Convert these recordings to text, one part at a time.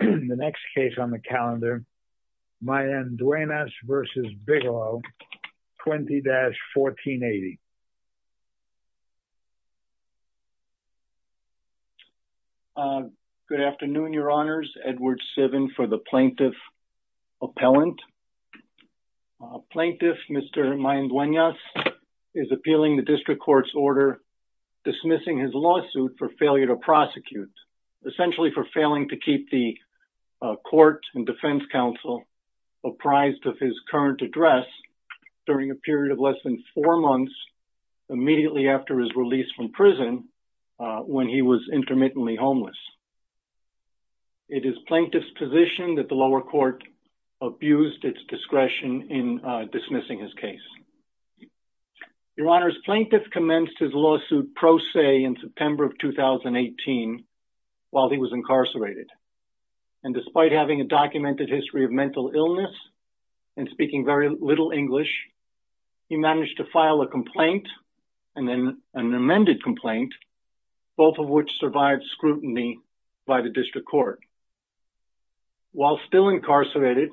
20-1480 Good afternoon, your honors. Edward Sivan for the Plaintiff Appellant. Plaintiff Mr. Mayanduenas is appealing the District Court's order dismissing his lawsuit for failure to prosecute, essentially for failing to keep the Court and Defense Counsel apprised of his current address during a period of less than four months immediately after his release from prison when he was intermittently homeless. It is Plaintiff's position that the lower court abused its discretion in dismissing his case. Your honors, Plaintiff commenced his lawsuit pro se in September of 2018 while he was incarcerated. And despite having a documented history of mental illness and speaking very little English, he managed to file a complaint and then an amended complaint, both of which survived scrutiny by the District Court. While still incarcerated,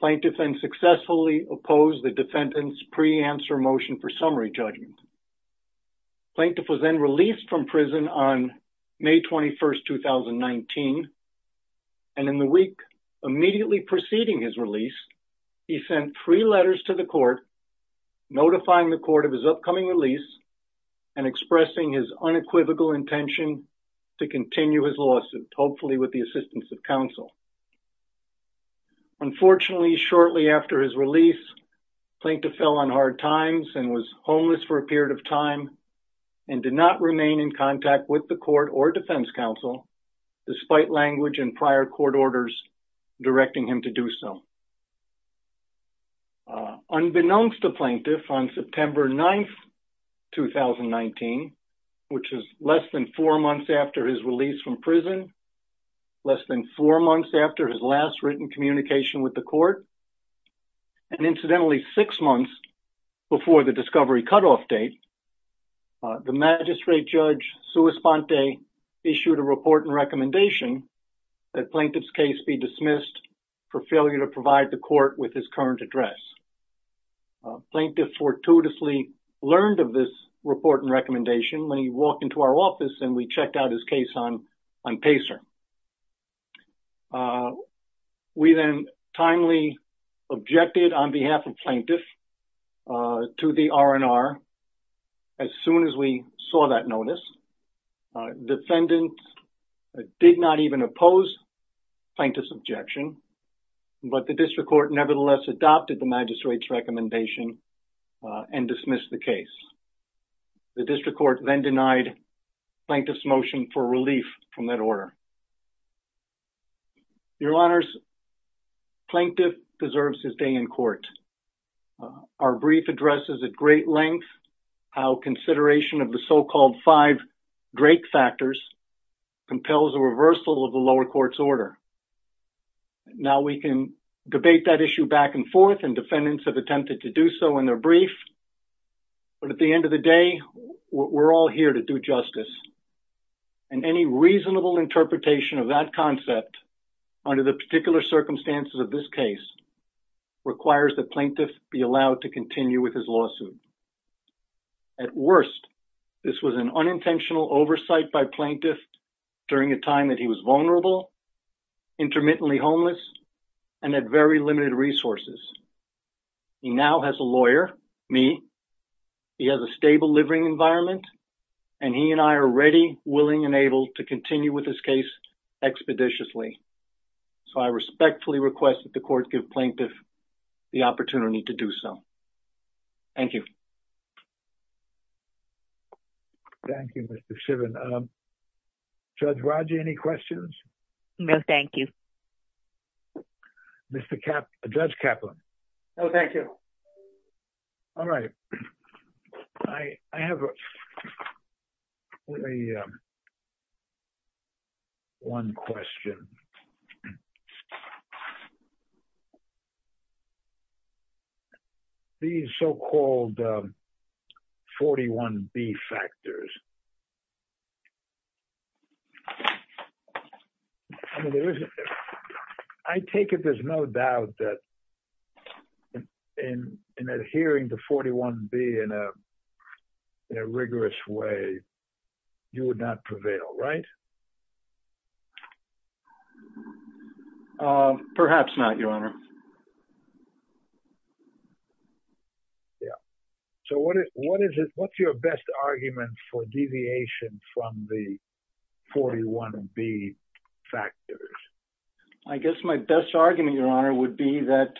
Plaintiff then successfully opposed the defendant's re-answer motion for summary judgment. Plaintiff was then released from prison on May 21, 2019, and in the week immediately preceding his release, he sent three letters to the court notifying the court of his upcoming release and expressing his unequivocal intention to continue his lawsuit, hopefully with the assistance of counsel. Unfortunately, shortly after his release, Plaintiff was in a state of hard times and was homeless for a period of time and did not remain in contact with the court or Defense Counsel despite language and prior court orders directing him to do so. Unbeknownst to Plaintiff, on September 9, 2019, which is less than four months after his release from prison, less than four months after his last written communication with the court, and incidentally six months before the discovery cutoff date, the Magistrate Judge Suespante issued a report and recommendation that Plaintiff's case be dismissed for failure to provide the court with his current address. Plaintiff fortuitously learned of this report and recommendation when he walked into our office and we checked out his case on PACER. We then timely objected on behalf of Plaintiff to the R&R as soon as we saw that notice. Defendants did not even oppose Plaintiff's objection, but the District Court nevertheless adopted the Magistrate's recommendation and dismissed the case. The Your Honors, Plaintiff deserves his day in court. Our brief addresses at great length how consideration of the so-called five Drake factors compels a reversal of the lower court's order. Now we can debate that issue back and forth and defendants have attempted to do so in their brief, but at the end of the day, we're all here to do justice and any reasonable interpretation of that concept under the particular circumstances of this case requires that Plaintiff be allowed to continue with his lawsuit. At worst, this was an unintentional oversight by Plaintiff during a time that he was vulnerable, intermittently homeless, and had very limited resources. He now has a lawyer, me, he has a stable living environment, and he and I are ready, willing, and able to continue with this case expeditiously, so I respectfully request that the court give Plaintiff the opportunity to do so. Thank you. Thank you, Mr. Sivin. Judge Rodger, any questions? No, thank you. Judge Kaplan? No, thank you. All right. I have one question. These so-called 41B factors, I take it there's no doubt that in adhering to 41B in a rigorous way, you would not prevail, right? Perhaps not, Your Honor. Yeah. So what is it, what's your best argument for deviation from the 41B factors? I guess my best argument, Your Honor, would be that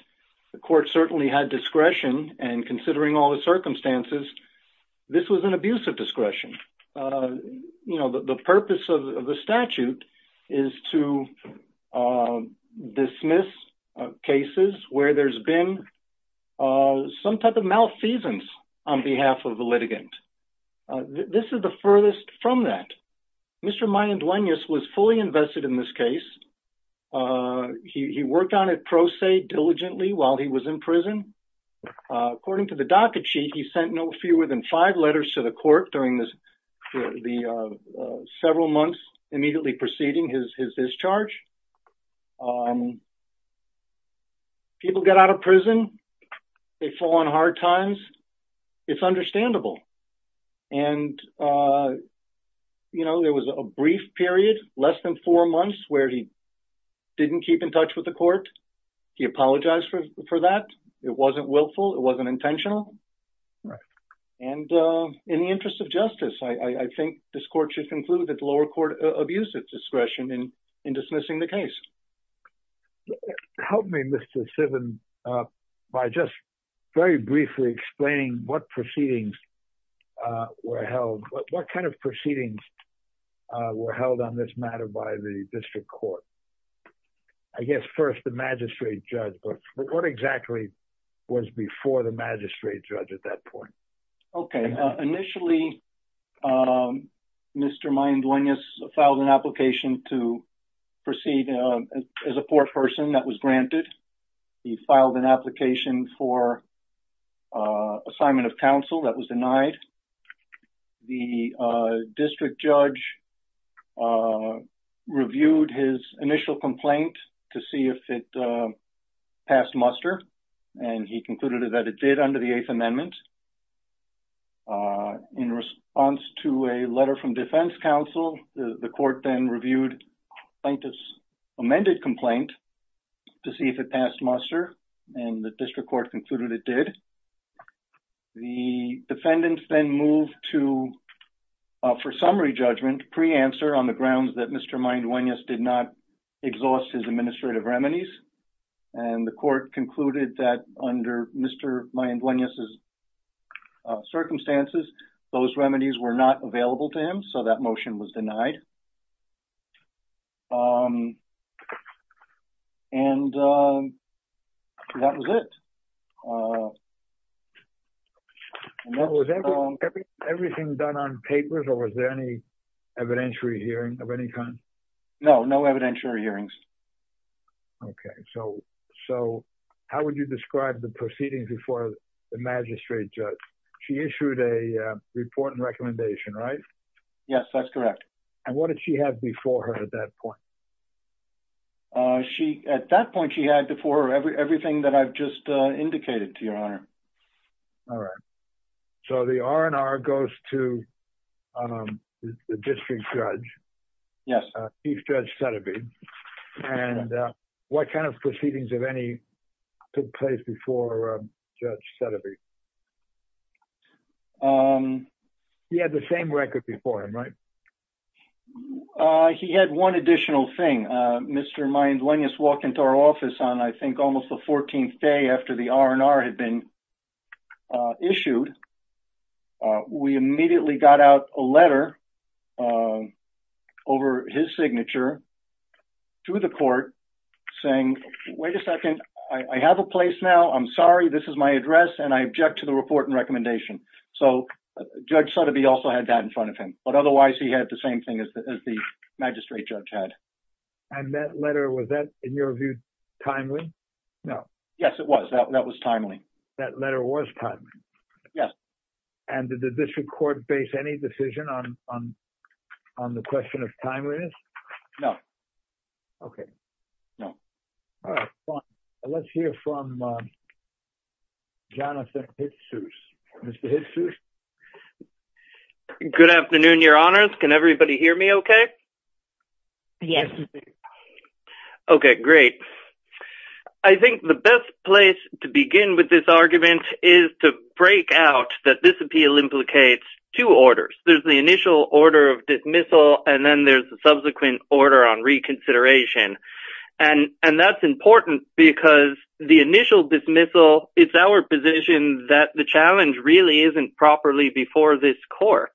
the court certainly had discretion, and considering all the circumstances, this was an abuse of discretion. You know, the purpose of the statute is to dismiss cases where there's been some type of malfeasance on behalf of the litigant. This is the furthest from that. Mr. Mayanduenas was fully invested in this case. He worked on it pro se, diligently, while he was in prison. According to the docket sheet, he sent no fewer than five letters to the court during the several months immediately preceding his discharge. People get out of prison. They fall on hard times. It's understandable. And, you know, there was a brief period, less than four months, where he didn't keep in touch with the court. He apologized for that. It wasn't willful. It wasn't intentional. And in the interest of justice, I think this court should conclude that the lower court abused its discretion in dismissing the case. Help me, Mr. Sivin, by just very briefly explaining what proceedings were held, what kind of proceedings were held on this matter by the district court. I guess first, the magistrate judge. But what exactly was before the magistrate judge at that point? Okay. Initially, Mr. Mayanduenas filed an application to proceed as a court person that was granted. He filed an appeal to the district council that was denied. The district judge reviewed his initial complaint to see if it passed muster. And he concluded that it did under the Eighth Amendment. In response to a letter from defense counsel, the court then reviewed plaintiff's amended complaint to see if it passed muster. And the district court concluded it did. The defendants then moved to, for summary judgment, pre-answer on the grounds that Mr. Mayanduenas did not exhaust his administrative remedies. And the court concluded that under Mr. Mayanduenas' circumstances, those remedies were not available to him. So that motion was denied. Um, and that was it. Was everything done on papers? Or was there any evidentiary hearing of any kind? No, no evidentiary hearings. Okay, so, so how would you describe the proceedings before the magistrate judge? She issued a report and recommendation, right? Yes, that's correct. And what did she have before her at that point? Uh, she, at that point, she had before everything that I've just indicated, to your honor. All right. So the R&R goes to the district judge. Yes. Chief Judge Sutterby. And what kind of proceedings of any took place before Judge Sutterby? He had the same record before him, right? Uh, he had one additional thing. Mr. Mayanduenas walked into our office on, I think, almost the 14th day after the R&R had been issued. We immediately got out a letter over his signature to the court saying, wait a second, I have a place now, I'm sorry, this is my address, and I object to the report and recommendation. So Judge Sutterby also had that in front of him. But otherwise, he had the same thing as the magistrate judge had. And that letter, was that, in your view, timely? No. Yes, it was. That was timely. That letter was timely? Yes. And did the district court base any decision on the question of timeliness? No. Okay. No. All right, fine. Let's hear from Jonathan Hitsuse. Mr. Hitsuse? Good afternoon, Your Honors. Can everybody hear me okay? Yes. Okay, great. I think the best place to begin with this argument is to break out that this appeal implicates two orders. There's the initial order of dismissal, and then there's a subsequent order on reconsideration. And that's important because the initial dismissal, it's our position that the court should not dismiss the case properly before this court.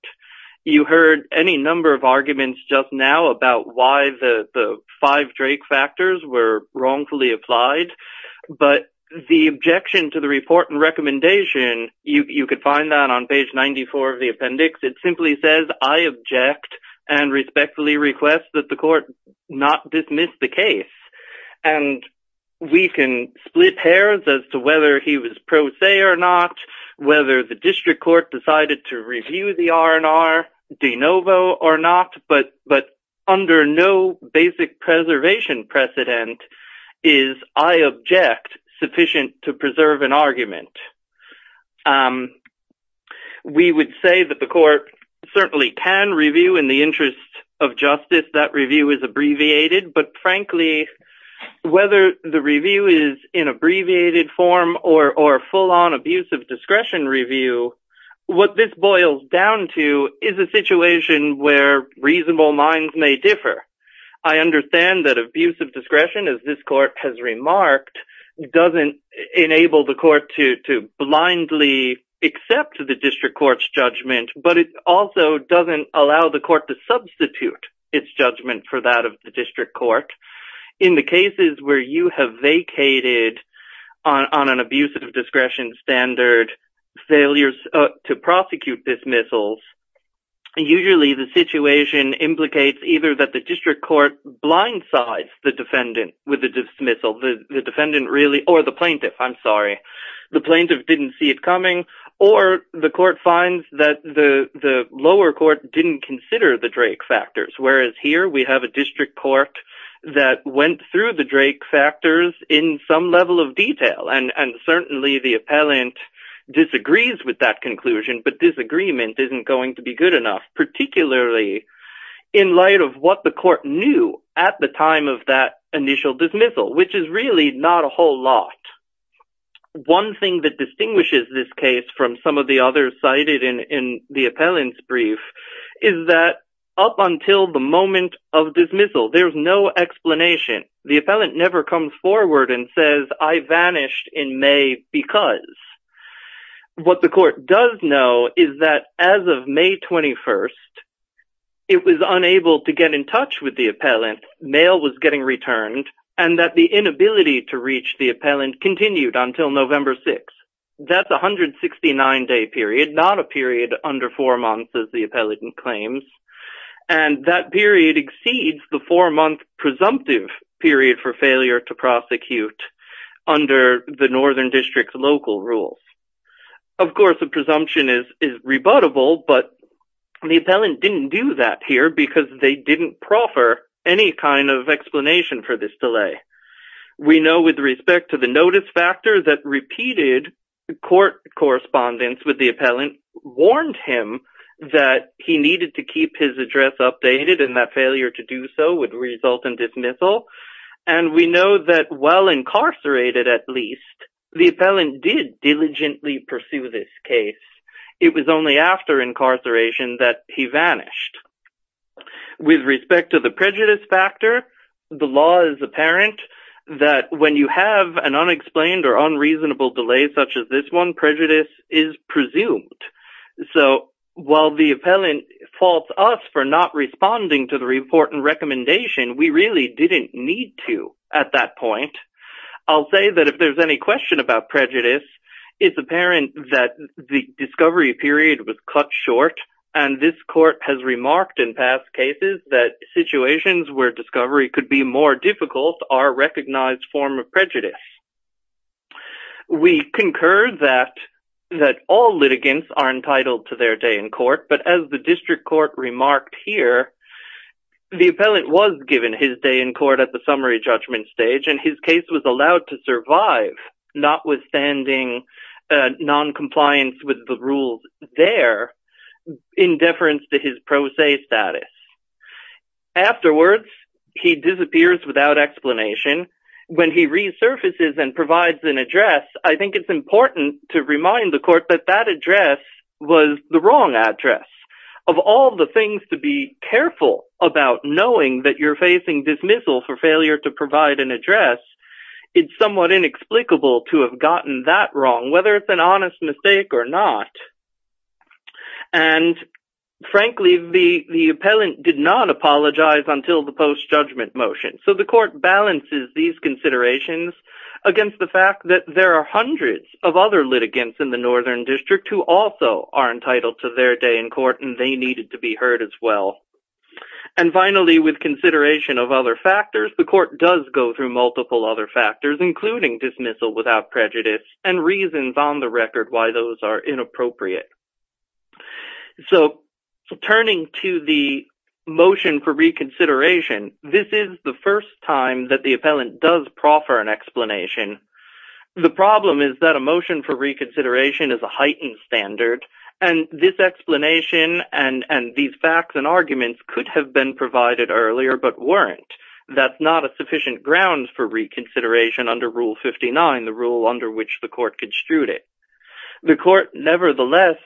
You heard any number of arguments just now about why the five Drake factors were wrongfully applied. But the objection to the report and recommendation, you could find that on page 94 of the appendix. It simply says, I object and respectfully request that the court not dismiss the case. And we can split hairs as whether he was pro se or not, whether the district court decided to review the R&R de novo or not. But under no basic preservation precedent is, I object, sufficient to preserve an argument. We would say that the court certainly can review in the interest of justice, that review is abbreviated. But frankly, whether the review is in abbreviated form or full-on abuse of discretion review, what this boils down to is a situation where reasonable minds may differ. I understand that abuse of discretion, as this court has remarked, doesn't enable the court to blindly accept the district court's judgment, but it also doesn't allow the court to substitute its judgment for that of the district court. In the cases where you have vacated on an abuse of discretion standard, failures to prosecute dismissals, usually the situation implicates either that the district court blindsides the defendant with the dismissal, the defendant really, or the plaintiff, I'm sorry, the plaintiff didn't see it coming, or the court finds that the Whereas here, we have a district court that went through the Drake factors in some level of detail, and certainly the appellant disagrees with that conclusion, but disagreement isn't going to be good enough, particularly in light of what the court knew at the time of that initial dismissal, which is really not a whole lot. One thing that distinguishes this case from some of the others in the appellant's brief is that up until the moment of dismissal, there's no explanation. The appellant never comes forward and says, I vanished in May because... What the court does know is that as of May 21st, it was unable to get in touch with the appellant, mail was getting returned, and that the inability to reach the appellant continued until November 6th. That's 169-day period, not a period under four months, as the appellant claims, and that period exceeds the four-month presumptive period for failure to prosecute under the Northern District's local rules. Of course, the presumption is rebuttable, but the appellant didn't do that here because they didn't proffer any kind of explanation for this court correspondence with the appellant warned him that he needed to keep his address updated, and that failure to do so would result in dismissal, and we know that while incarcerated, at least, the appellant did diligently pursue this case. It was only after incarceration that he vanished. With respect to the prejudice factor, the law is apparent that when you have an unexplained or unreasonable delay such as this one, prejudice is presumed. So while the appellant faults us for not responding to the report and recommendation, we really didn't need to at that point. I'll say that if there's any question about prejudice, it's apparent that the discovery period was cut short, and this court has remarked in past cases that situations where of prejudice. We concur that all litigants are entitled to their day in court, but as the district court remarked here, the appellant was given his day in court at the summary judgment stage, and his case was allowed to survive, notwithstanding non-compliance with the rules there in deference to his pro se status. Afterwards, he disappears without explanation. When he resurfaces and provides an address, I think it's important to remind the court that that address was the wrong address. Of all the things to be careful about knowing that you're facing dismissal for failure to provide an address, it's somewhat inexplicable to have gotten that wrong, whether it's an honest mistake or not. And frankly, the appellant did not apologize until the post-judgment motion, so the court balances these considerations against the fact that there are hundreds of other litigants in the Northern District who also are entitled to their day in court, and they needed to be heard as well. And finally, with consideration of other factors, the court does go through other factors, including dismissal without prejudice and reasons on the record why those are inappropriate. So, turning to the motion for reconsideration, this is the first time that the appellant does proffer an explanation. The problem is that a motion for reconsideration is a heightened standard, and this explanation and these facts and arguments could have been provided earlier, but weren't. That's not a sufficient ground for reconsideration under Rule 59, the rule under which the court construed it. The court nevertheless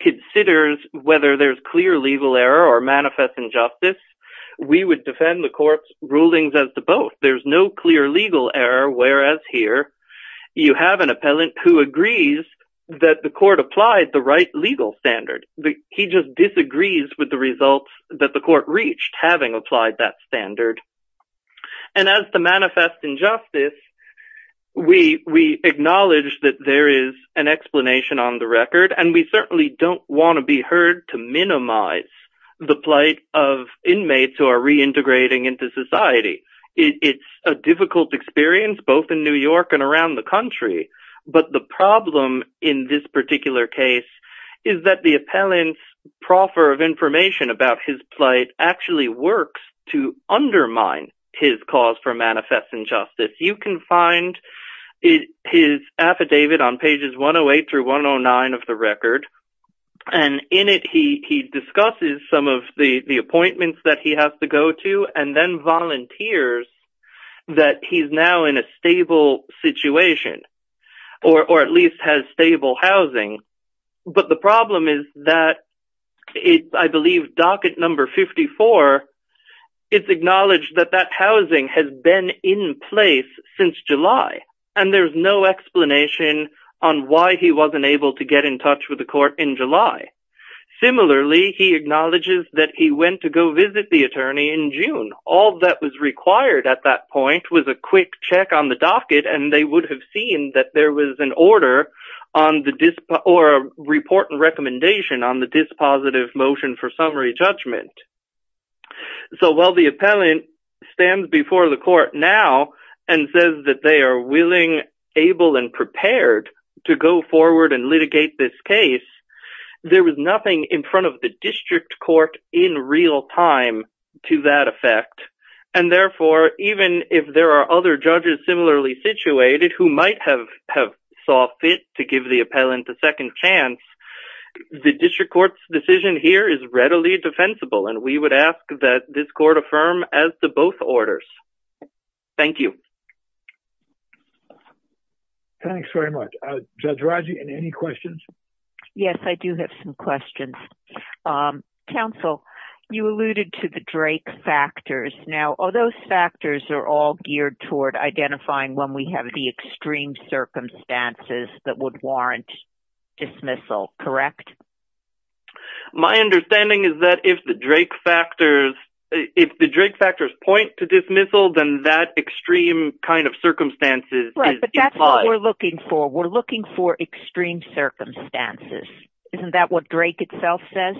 considers whether there's clear legal error or manifest injustice. We would defend the court's rulings as to both. There's no clear legal error, whereas here, you have an appellant who agrees that the court applied the right legal standard. He just disagrees with the results that the court reached having applied that standard. And as to manifest injustice, we acknowledge that there is an explanation on the record, and we certainly don't want to be heard to minimize the plight of inmates who are reintegrating into society. It's a difficult experience, both in New York and around the country, but the problem in this particular case is that the appellant's proffer of information about his plight actually works to undermine his cause for manifest injustice. You can find his affidavit on pages 108 through 109 of the record, and in it, he discusses some of the appointments that he has to go to, and then volunteers that he's now in a stable situation, or at least has stable housing. But the problem is that, I believe docket number 54, it's acknowledged that that housing has been in place since July, and there's no explanation on why he wasn't able to get in touch with the court in July. Similarly, he acknowledges that he went to go visit the attorney in June. All that was required at that point was a quick check on the docket, and they would have seen that there was an order or a report and recommendation on the dispositive motion for summary judgment. So while the appellant stands before the court now and says that they are willing, able, and prepared to go forward and litigate this case, there was nothing in front of the district court in real time to that effect. And therefore, even if there are other judges similarly situated who might have saw fit to give the appellant a second chance, the district court's decision here is readily defensible, and we would ask that this court affirm as to both orders. Thank you. Thanks very much. Judge Raji, any questions? Yes, I do have some questions. Counsel, you alluded to the Drake factors. Now, are those factors are all geared toward identifying when we have the extreme circumstances that would warrant dismissal, correct? My understanding is that if the Drake factors, if the Drake factors point to dismissal, then that extreme kind of circumstances is implied. Right, but that's what we're looking for. We're looking for extreme circumstances. Isn't that what Drake itself says?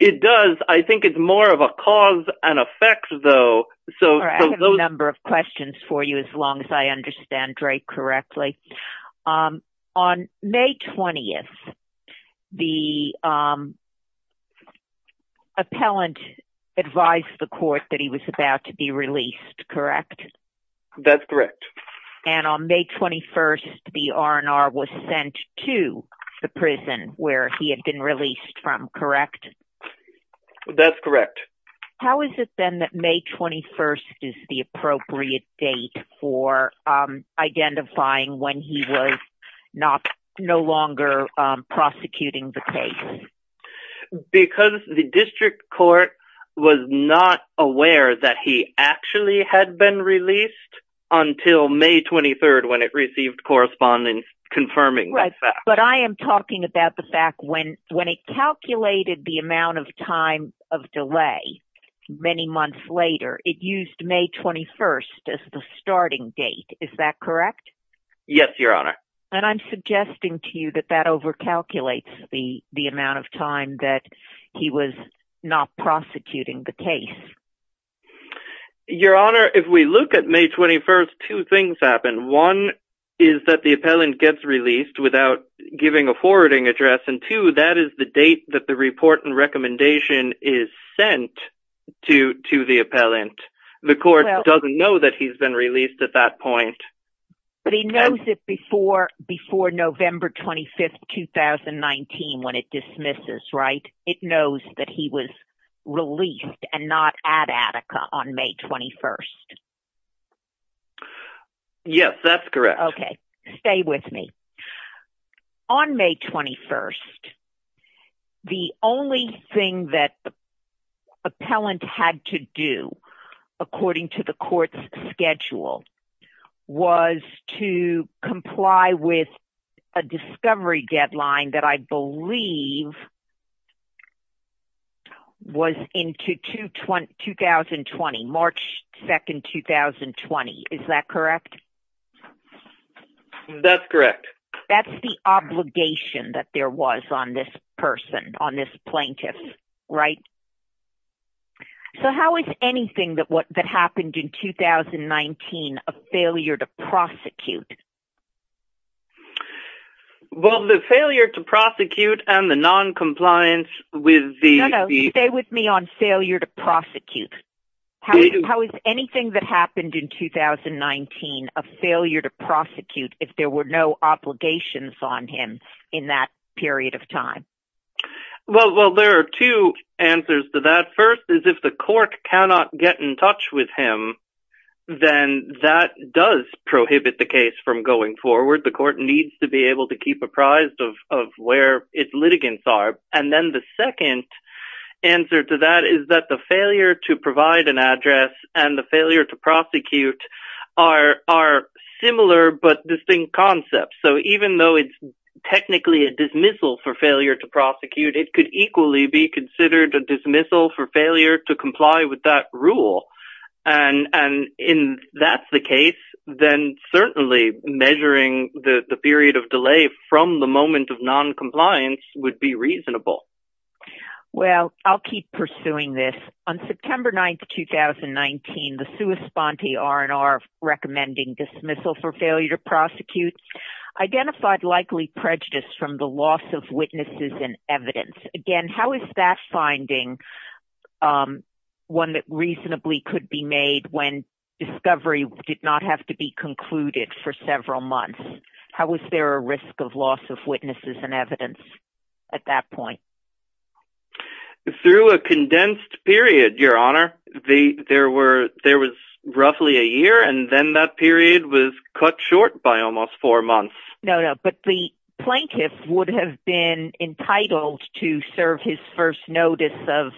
It does. I think it's more of a cause and effect, though. All right, I have a number of questions for you, as long as I understand Drake correctly. On May 20th, the appellant advised the court that he was about to be released, correct? That's correct. And on May 21st, the R&R was sent to the prison where he had been released from, correct? That's correct. How is it, then, that May 21st is the appropriate date for identifying when he was no longer prosecuting the case? Because the district court was not aware that he actually had been released until May 23rd, when it received correspondence confirming the fact. Many months later, it used May 21st as the starting date. Is that correct? Yes, Your Honor. And I'm suggesting to you that that overcalculates the amount of time that he was not prosecuting the case. Your Honor, if we look at May 21st, two things happen. One is that the appellant gets released without giving a forwarding address, and two, that is the date that the report and recommendation is sent to the appellant. The court doesn't know that he's been released at that point. But he knows it before November 25th, 2019, when it dismisses, right? It knows that he was released and not at Attica on May 21st. Yes, that's correct. Okay, stay with me. On May 21st, the only thing that the appellant had to do, according to the court's schedule, was to comply with a discovery deadline that I believe was into 2020, March 2nd, 2020. Is that correct? That's correct. That's the obligation that there was on this person, on this plaintiff, right? So how is anything that happened in 2019 a failure to prosecute? Well, the failure to prosecute and the noncompliance with the... No, no, stay with me on failure to prosecute. How is anything that happened in 2019 a failure to prosecute if there were no obligations on him in that period of time? Well, there are two answers to that. First is if the court cannot get in touch with him, then that does prohibit the case from going forward. The court needs to be able to keep apprised of where its litigants are. And then the second answer to that is that the failure to provide an address and the failure to prosecute are similar but distinct concepts. So even though it's technically a dismissal for failure to prosecute, it could equally be considered a dismissal for failure to comply with that rule. And if that's the case, then certainly measuring the period of delay from the moment of noncompliance would be reasonable. Well, I'll keep pursuing this. On September 9th, 2019, the sua sponte R&R recommending dismissal for failure to prosecute identified likely prejudice from the loss of witnesses and evidence. Again, how is that finding one that reasonably could be made when discovery did not have to be concluded for several months? How was there a risk of loss of witnesses and evidence at that point? It's through a condensed period, Your Honor. There was roughly a year and then that period was cut short by almost four months. No, no. But the plaintiff would have been entitled to serve his first notice of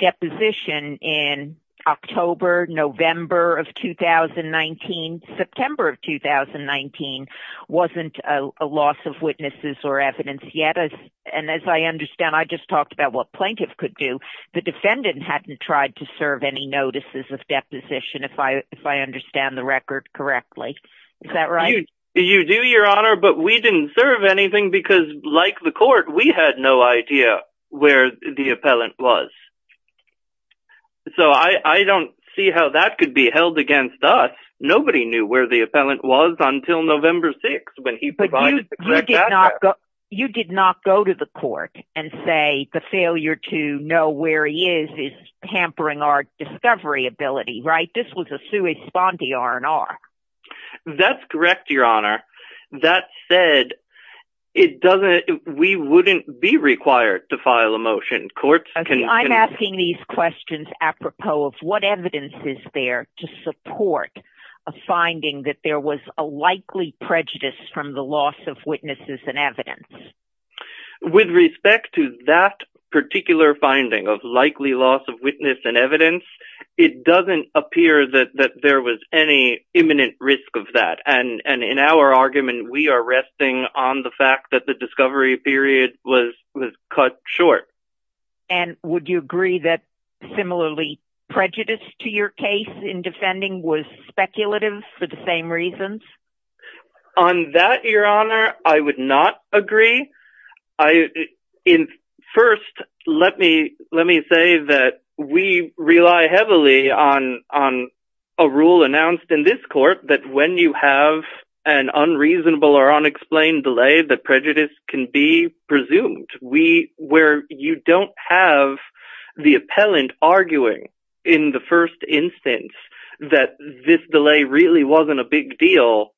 deposition in October, November of 2019. September of 2019 wasn't a loss of witnesses or evidence yet. And as I understand, I just talked about what plaintiff could do. The defendant hadn't tried to serve any notices of deposition if I understand the record correctly. Is that right? You do, Your Honor, but we didn't serve anything because like the court, we had no idea where the appellant was. So I don't see how that could be held against us. Nobody knew where the appellant was until November 6th when he provided the exact data. You did not go to the court and say the failure to know where he is is hampering our discovery ability, right? This was a sui spondi R&R. That's correct, Your Honor. That said, we wouldn't be required to file a motion. Courts can- I'm asking these questions apropos of what evidence is there to support a finding that there was a likely prejudice from the loss of witnesses and evidence. With respect to that particular finding of likely loss of witness and evidence, it doesn't appear that there was any imminent risk of that. And in our argument, we are resting on the fact that the discovery period was cut short. And would you agree that similarly prejudice to your case in defending was speculative for the same reasons? On that, Your Honor, I would not agree. First, let me say that we rely heavily on a rule announced in this court that when you have an unreasonable or unexplained delay, the prejudice can be presumed. Where you don't have the appellant arguing in the first instance that this delay really wasn't a big deal,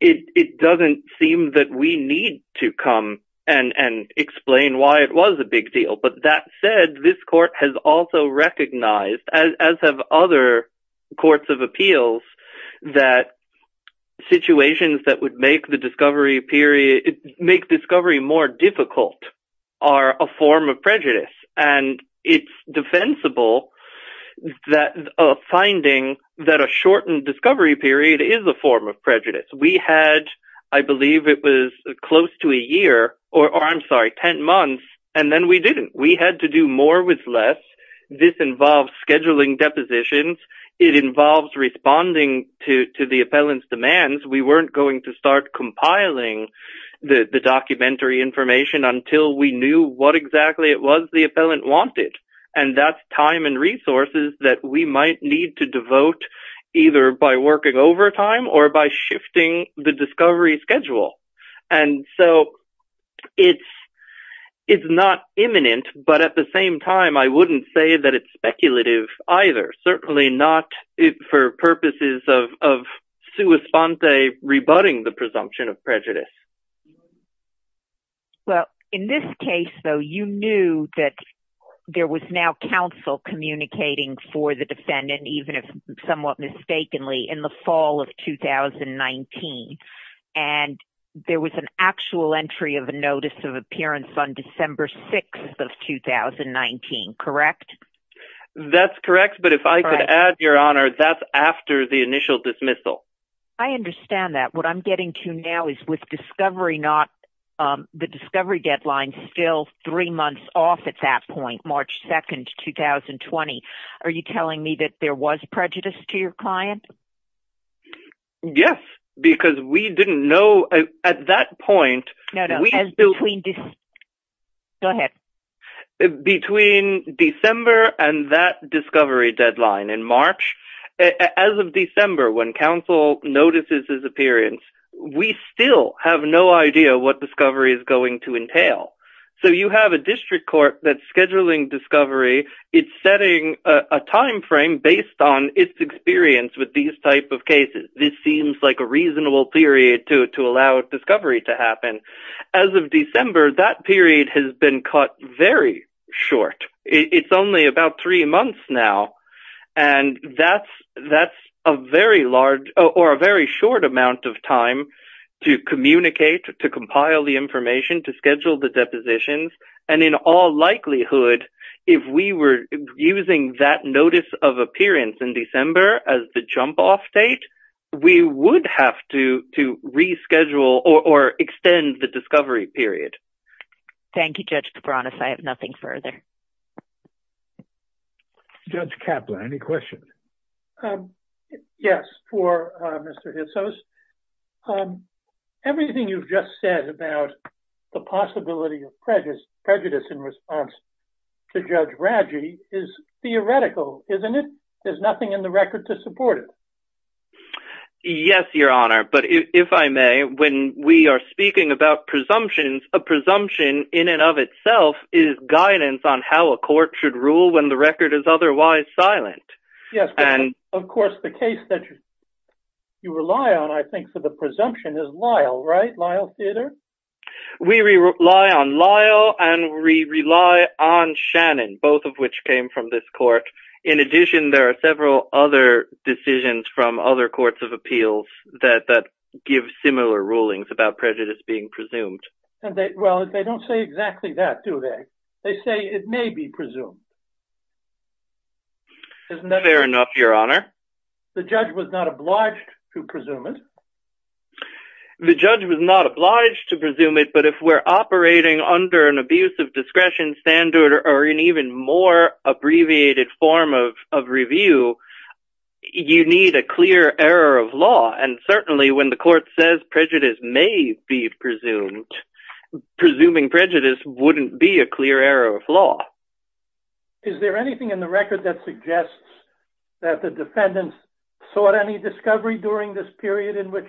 it doesn't seem that we need to come and explain why it was a big deal. But that said, this court has also recognized, as have other courts of appeals, that situations that would make the discovery period- make discovery more difficult are a form of prejudice. And it's defensible that a finding that a shortened discovery period is a form of prejudice. We had, I believe it was close to a year, or I'm sorry, 10 months, and then we didn't. We had to do more with less. This involves scheduling depositions. It involves responding to the appellant's demands. We weren't going to start compiling the documentary information until we knew what exactly it was the appellant wanted. And that's time and resources that we might need to devote, either by working overtime or by shifting the discovery schedule. And so, it's not imminent, but at the same time, I wouldn't say that it's speculative, either. Certainly not for purposes of sua sponte, rebutting the presumption of prejudice. Well, in this case, though, you knew that there was now counsel communicating for the defendant, even if somewhat mistakenly, in the fall of 2019. And there was an actual entry of a notice of appearance on December 6th of 2019, correct? That's correct. But if I could add, Your Honor, that's after the initial dismissal. I understand that. What I'm getting to now is with discovery, the discovery deadline is still three months off at that point, March 2nd, 2020. Are you telling me that there was prejudice to your client? Yes, because we didn't know at that point. No, no. Go ahead. Between December and that discovery deadline in March, as of December, when counsel notices his appearance, we still have no idea what discovery is going to entail. So, you have a district court that's scheduling discovery. It's setting a time frame based on its experience with these type of cases. This seems like a reasonable period to allow discovery to happen. As of December, that period has been cut very short. It's only about three months now, and that's a very short amount of time to communicate, to compile the information, to schedule the depositions. And in all likelihood, if we were using that notice of appearance in December as the jump-off date, we would have to reschedule or extend the discovery period. Thank you, Judge Cabranes. I have nothing further. Judge Kaplan, any questions? Yes. For Mr. Hitzos, everything you've just said about the possibility of prejudice in response to Judge Raggi is theoretical, isn't it? There's nothing in the record to support it. Yes, Your Honor, but if I may, when we are speaking about presumptions, a presumption in and of itself is guidance on how a court should rule when the record is otherwise silent. Yes, of course, the case that you rely on, I think, for the presumption is Lyle, right? Lyle Theater? We rely on Lyle and we rely on Shannon, both of which came from this court. In addition, there are several other decisions from other courts of And they, well, they don't say exactly that, do they? They say it may be presumed. Isn't that fair enough, Your Honor? The judge was not obliged to presume it. The judge was not obliged to presume it, but if we're operating under an abuse of discretion standard or an even more abbreviated form of review, you need a clear error of law. And a presuming prejudice wouldn't be a clear error of law. Is there anything in the record that suggests that the defendants sought any discovery during this period in which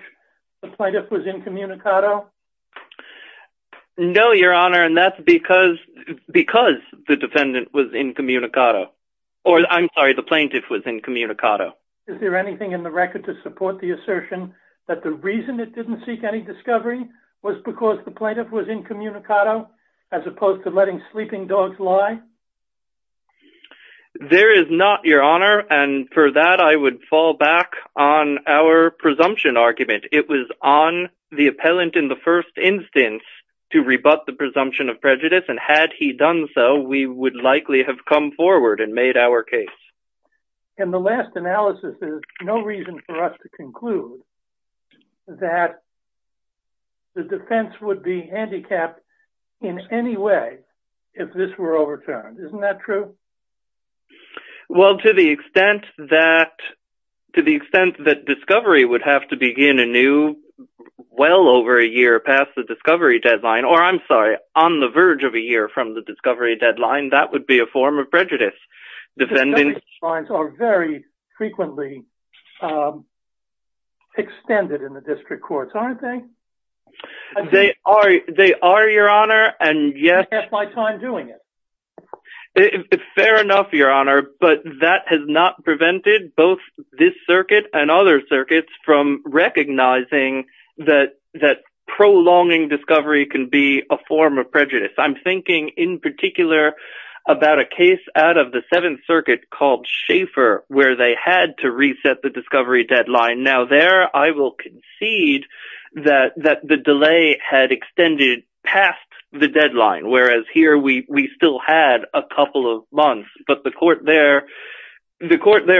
the plaintiff was incommunicado? No, Your Honor, and that's because the defendant was incommunicado, or I'm sorry, the plaintiff was incommunicado. Is there anything in the record to support the assertion that the reason it didn't seek any discovery was because the plaintiff was incommunicado as opposed to letting sleeping dogs lie? There is not, Your Honor, and for that, I would fall back on our presumption argument. It was on the appellant in the first instance to rebut the presumption of prejudice, and had he done so, we would likely have come forward and made our case. And the last analysis is no reason for us to conclude that the defense would be handicapped in any way if this were overturned. Isn't that true? Well, to the extent that discovery would have to begin anew well over a year past the discovery deadline, or I'm sorry, on the verge of a year from the discovery deadline, that would be a form of prejudice. Discovery fines are very frequently extended in the district courts, aren't they? They are, Your Honor, and yes— I have my time doing it. Fair enough, Your Honor, but that has not prevented both this circuit and other circuits from recognizing that prolonging discovery can be a form of prejudice. I'm thinking in particular about a case out of the Seventh Circuit called Schaeffer, where they had to reset the discovery deadline. Now there, I will concede that the delay had extended past the deadline, whereas here we still had a couple of months, but the court there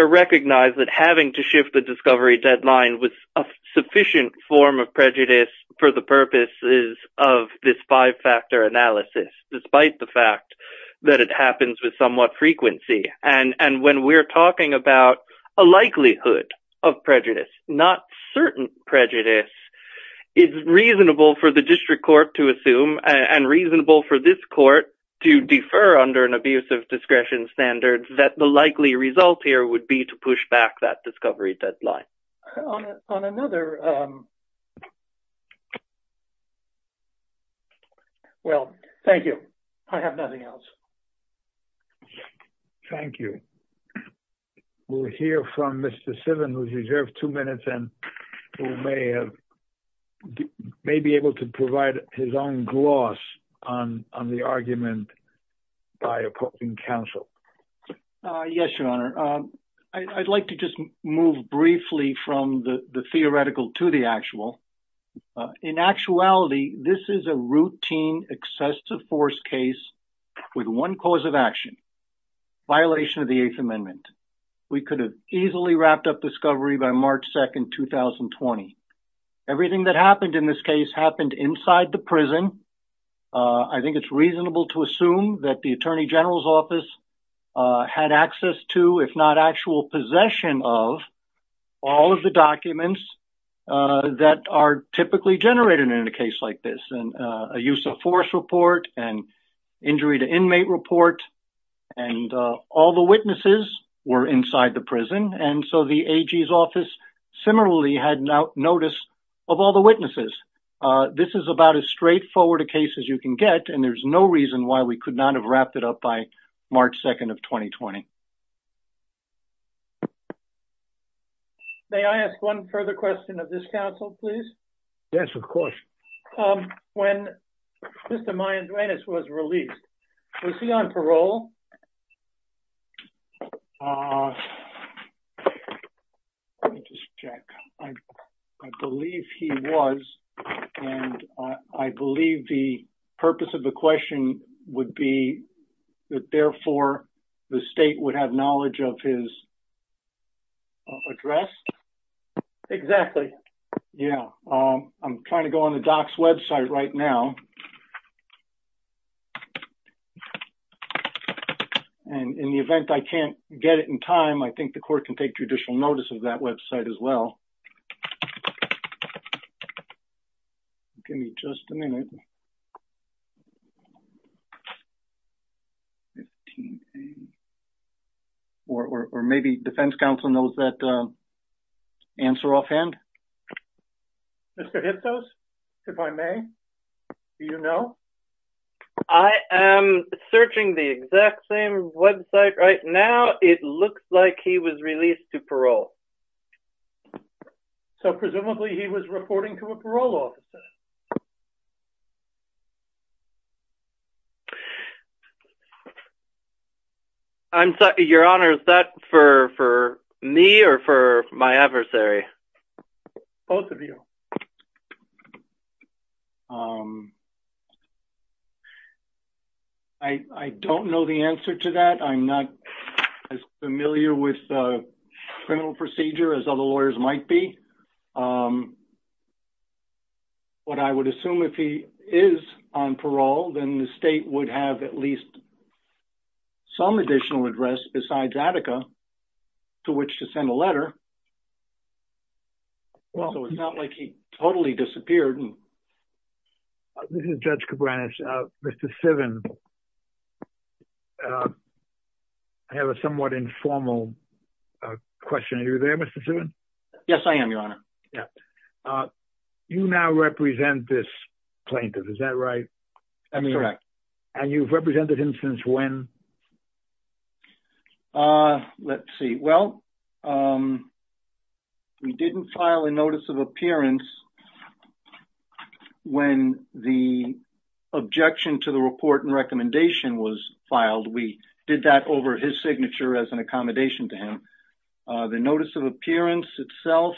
recognized that having to shift the discovery deadline was a sufficient form of prejudice for the purposes of this five-factor analysis, despite the fact that it happens with somewhat frequency. And when we're talking about a likelihood of prejudice, not certain prejudice, it's reasonable for the district court to assume, and reasonable for this court to defer under an abuse of discretion standards, that the likely result here would be to push back that discovery deadline. On another— Well, thank you. I have nothing else. Thank you. We'll hear from Mr. Sivin, who's reserved two minutes and who may be able to provide his own gloss on the argument by opposing counsel. Yes, Your Honor. I'd like to just move briefly from the theoretical to the actual. In actuality, this is a routine excessive force case with one cause of action, violation of the Eighth Amendment. We could have easily wrapped up discovery by March 2nd, 2020. Everything that happened in this case happened inside the prison. I think it's reasonable to assume that the AG's office had access to, if not actual possession of, all of the documents that are typically generated in a case like this. And a use of force report, and injury to inmate report, and all the witnesses were inside the prison. And so the AG's office similarly had notice of all the witnesses. This is about as straightforward a case as you can get, and there's no reason why we could not have wrapped it up by March 2nd of 2020. May I ask one further question of this counsel, please? Yes, of course. When Mr. Mayandranas was released, was he on parole? Let me just check. I believe he was, and I believe the purpose of the question would be that therefore the state would have knowledge of his address? Exactly. Yeah. I'm trying to go on the DOC's website right now. And in the event I can't get it in time, I think the court can take judicial notice of that website as well. Give me just a minute. Or maybe defense counsel knows that answer offhand? Mr. Hipthos, if I may, do you know? I am searching the exact same website right now. It looks like he was released to parole. So presumably he was reporting to a parole officer? Your Honor, is that for me or for my adversary? Both of you. I don't know the answer to that. I'm not as familiar with the criminal procedure as other lawyers might be. But I would assume if he is on parole, then the state would have at least some additional address besides Attica to which to send a letter. So it's not like he totally disappeared. This is Judge Cabranes. Mr. Sivin, I have a somewhat informal question. Are you there, Mr. Sivin? Yes, I am, Your Honor. You now represent this plaintiff, is that right? That's correct. And you've represented him since when? Let's see. Well, we didn't file a notice of appearance when the objection to the report and recommendation was filed. We did that over his signature as an accommodation to him. The notice of appearance itself,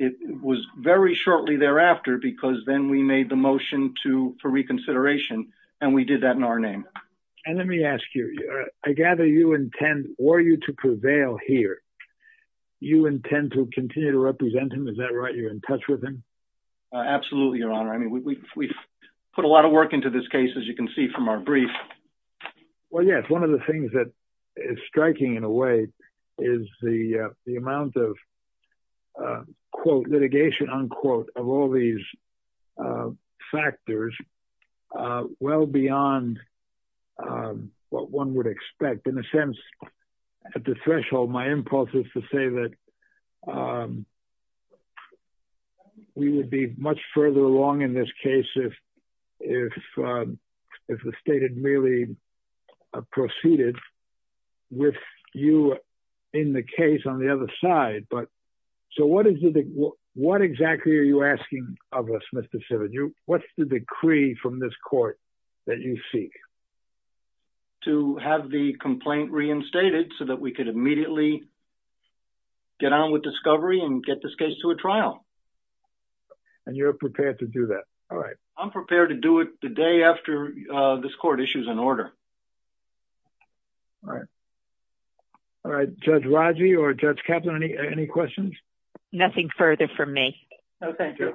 it was very shortly thereafter because then we made the motion to for reconsideration, and we did that in our name. And let me ask you, I gather you intend or you to prevail here. You intend to continue to represent him, is that right? You're in touch with him? Absolutely, Your Honor. I mean, we've put a lot of work into this case, as you can see from our brief. Well, yes. One of the things that is striking in a way is the amount of, quote, litigation, unquote, of all these factors well beyond what one would expect. In a sense, at the threshold, my impulse is to say that we would be much further along in this case if the state had merely proceeded with you in the case on the other side. So what exactly are you asking of us, Mr. Simmons? What's the decree from this court that you seek? To have the complaint reinstated so that we could immediately get on with discovery and get this case to a trial. And you're prepared to do that? All right. I'm prepared to do it the day after this court issues an order. All right. All right. Judge Raji or Judge Kaplan, any questions? Nothing further from me. No, thank you.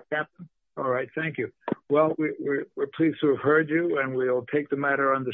All right. Thank you. Well, we're pleased to have heard you, and we'll take the matter on.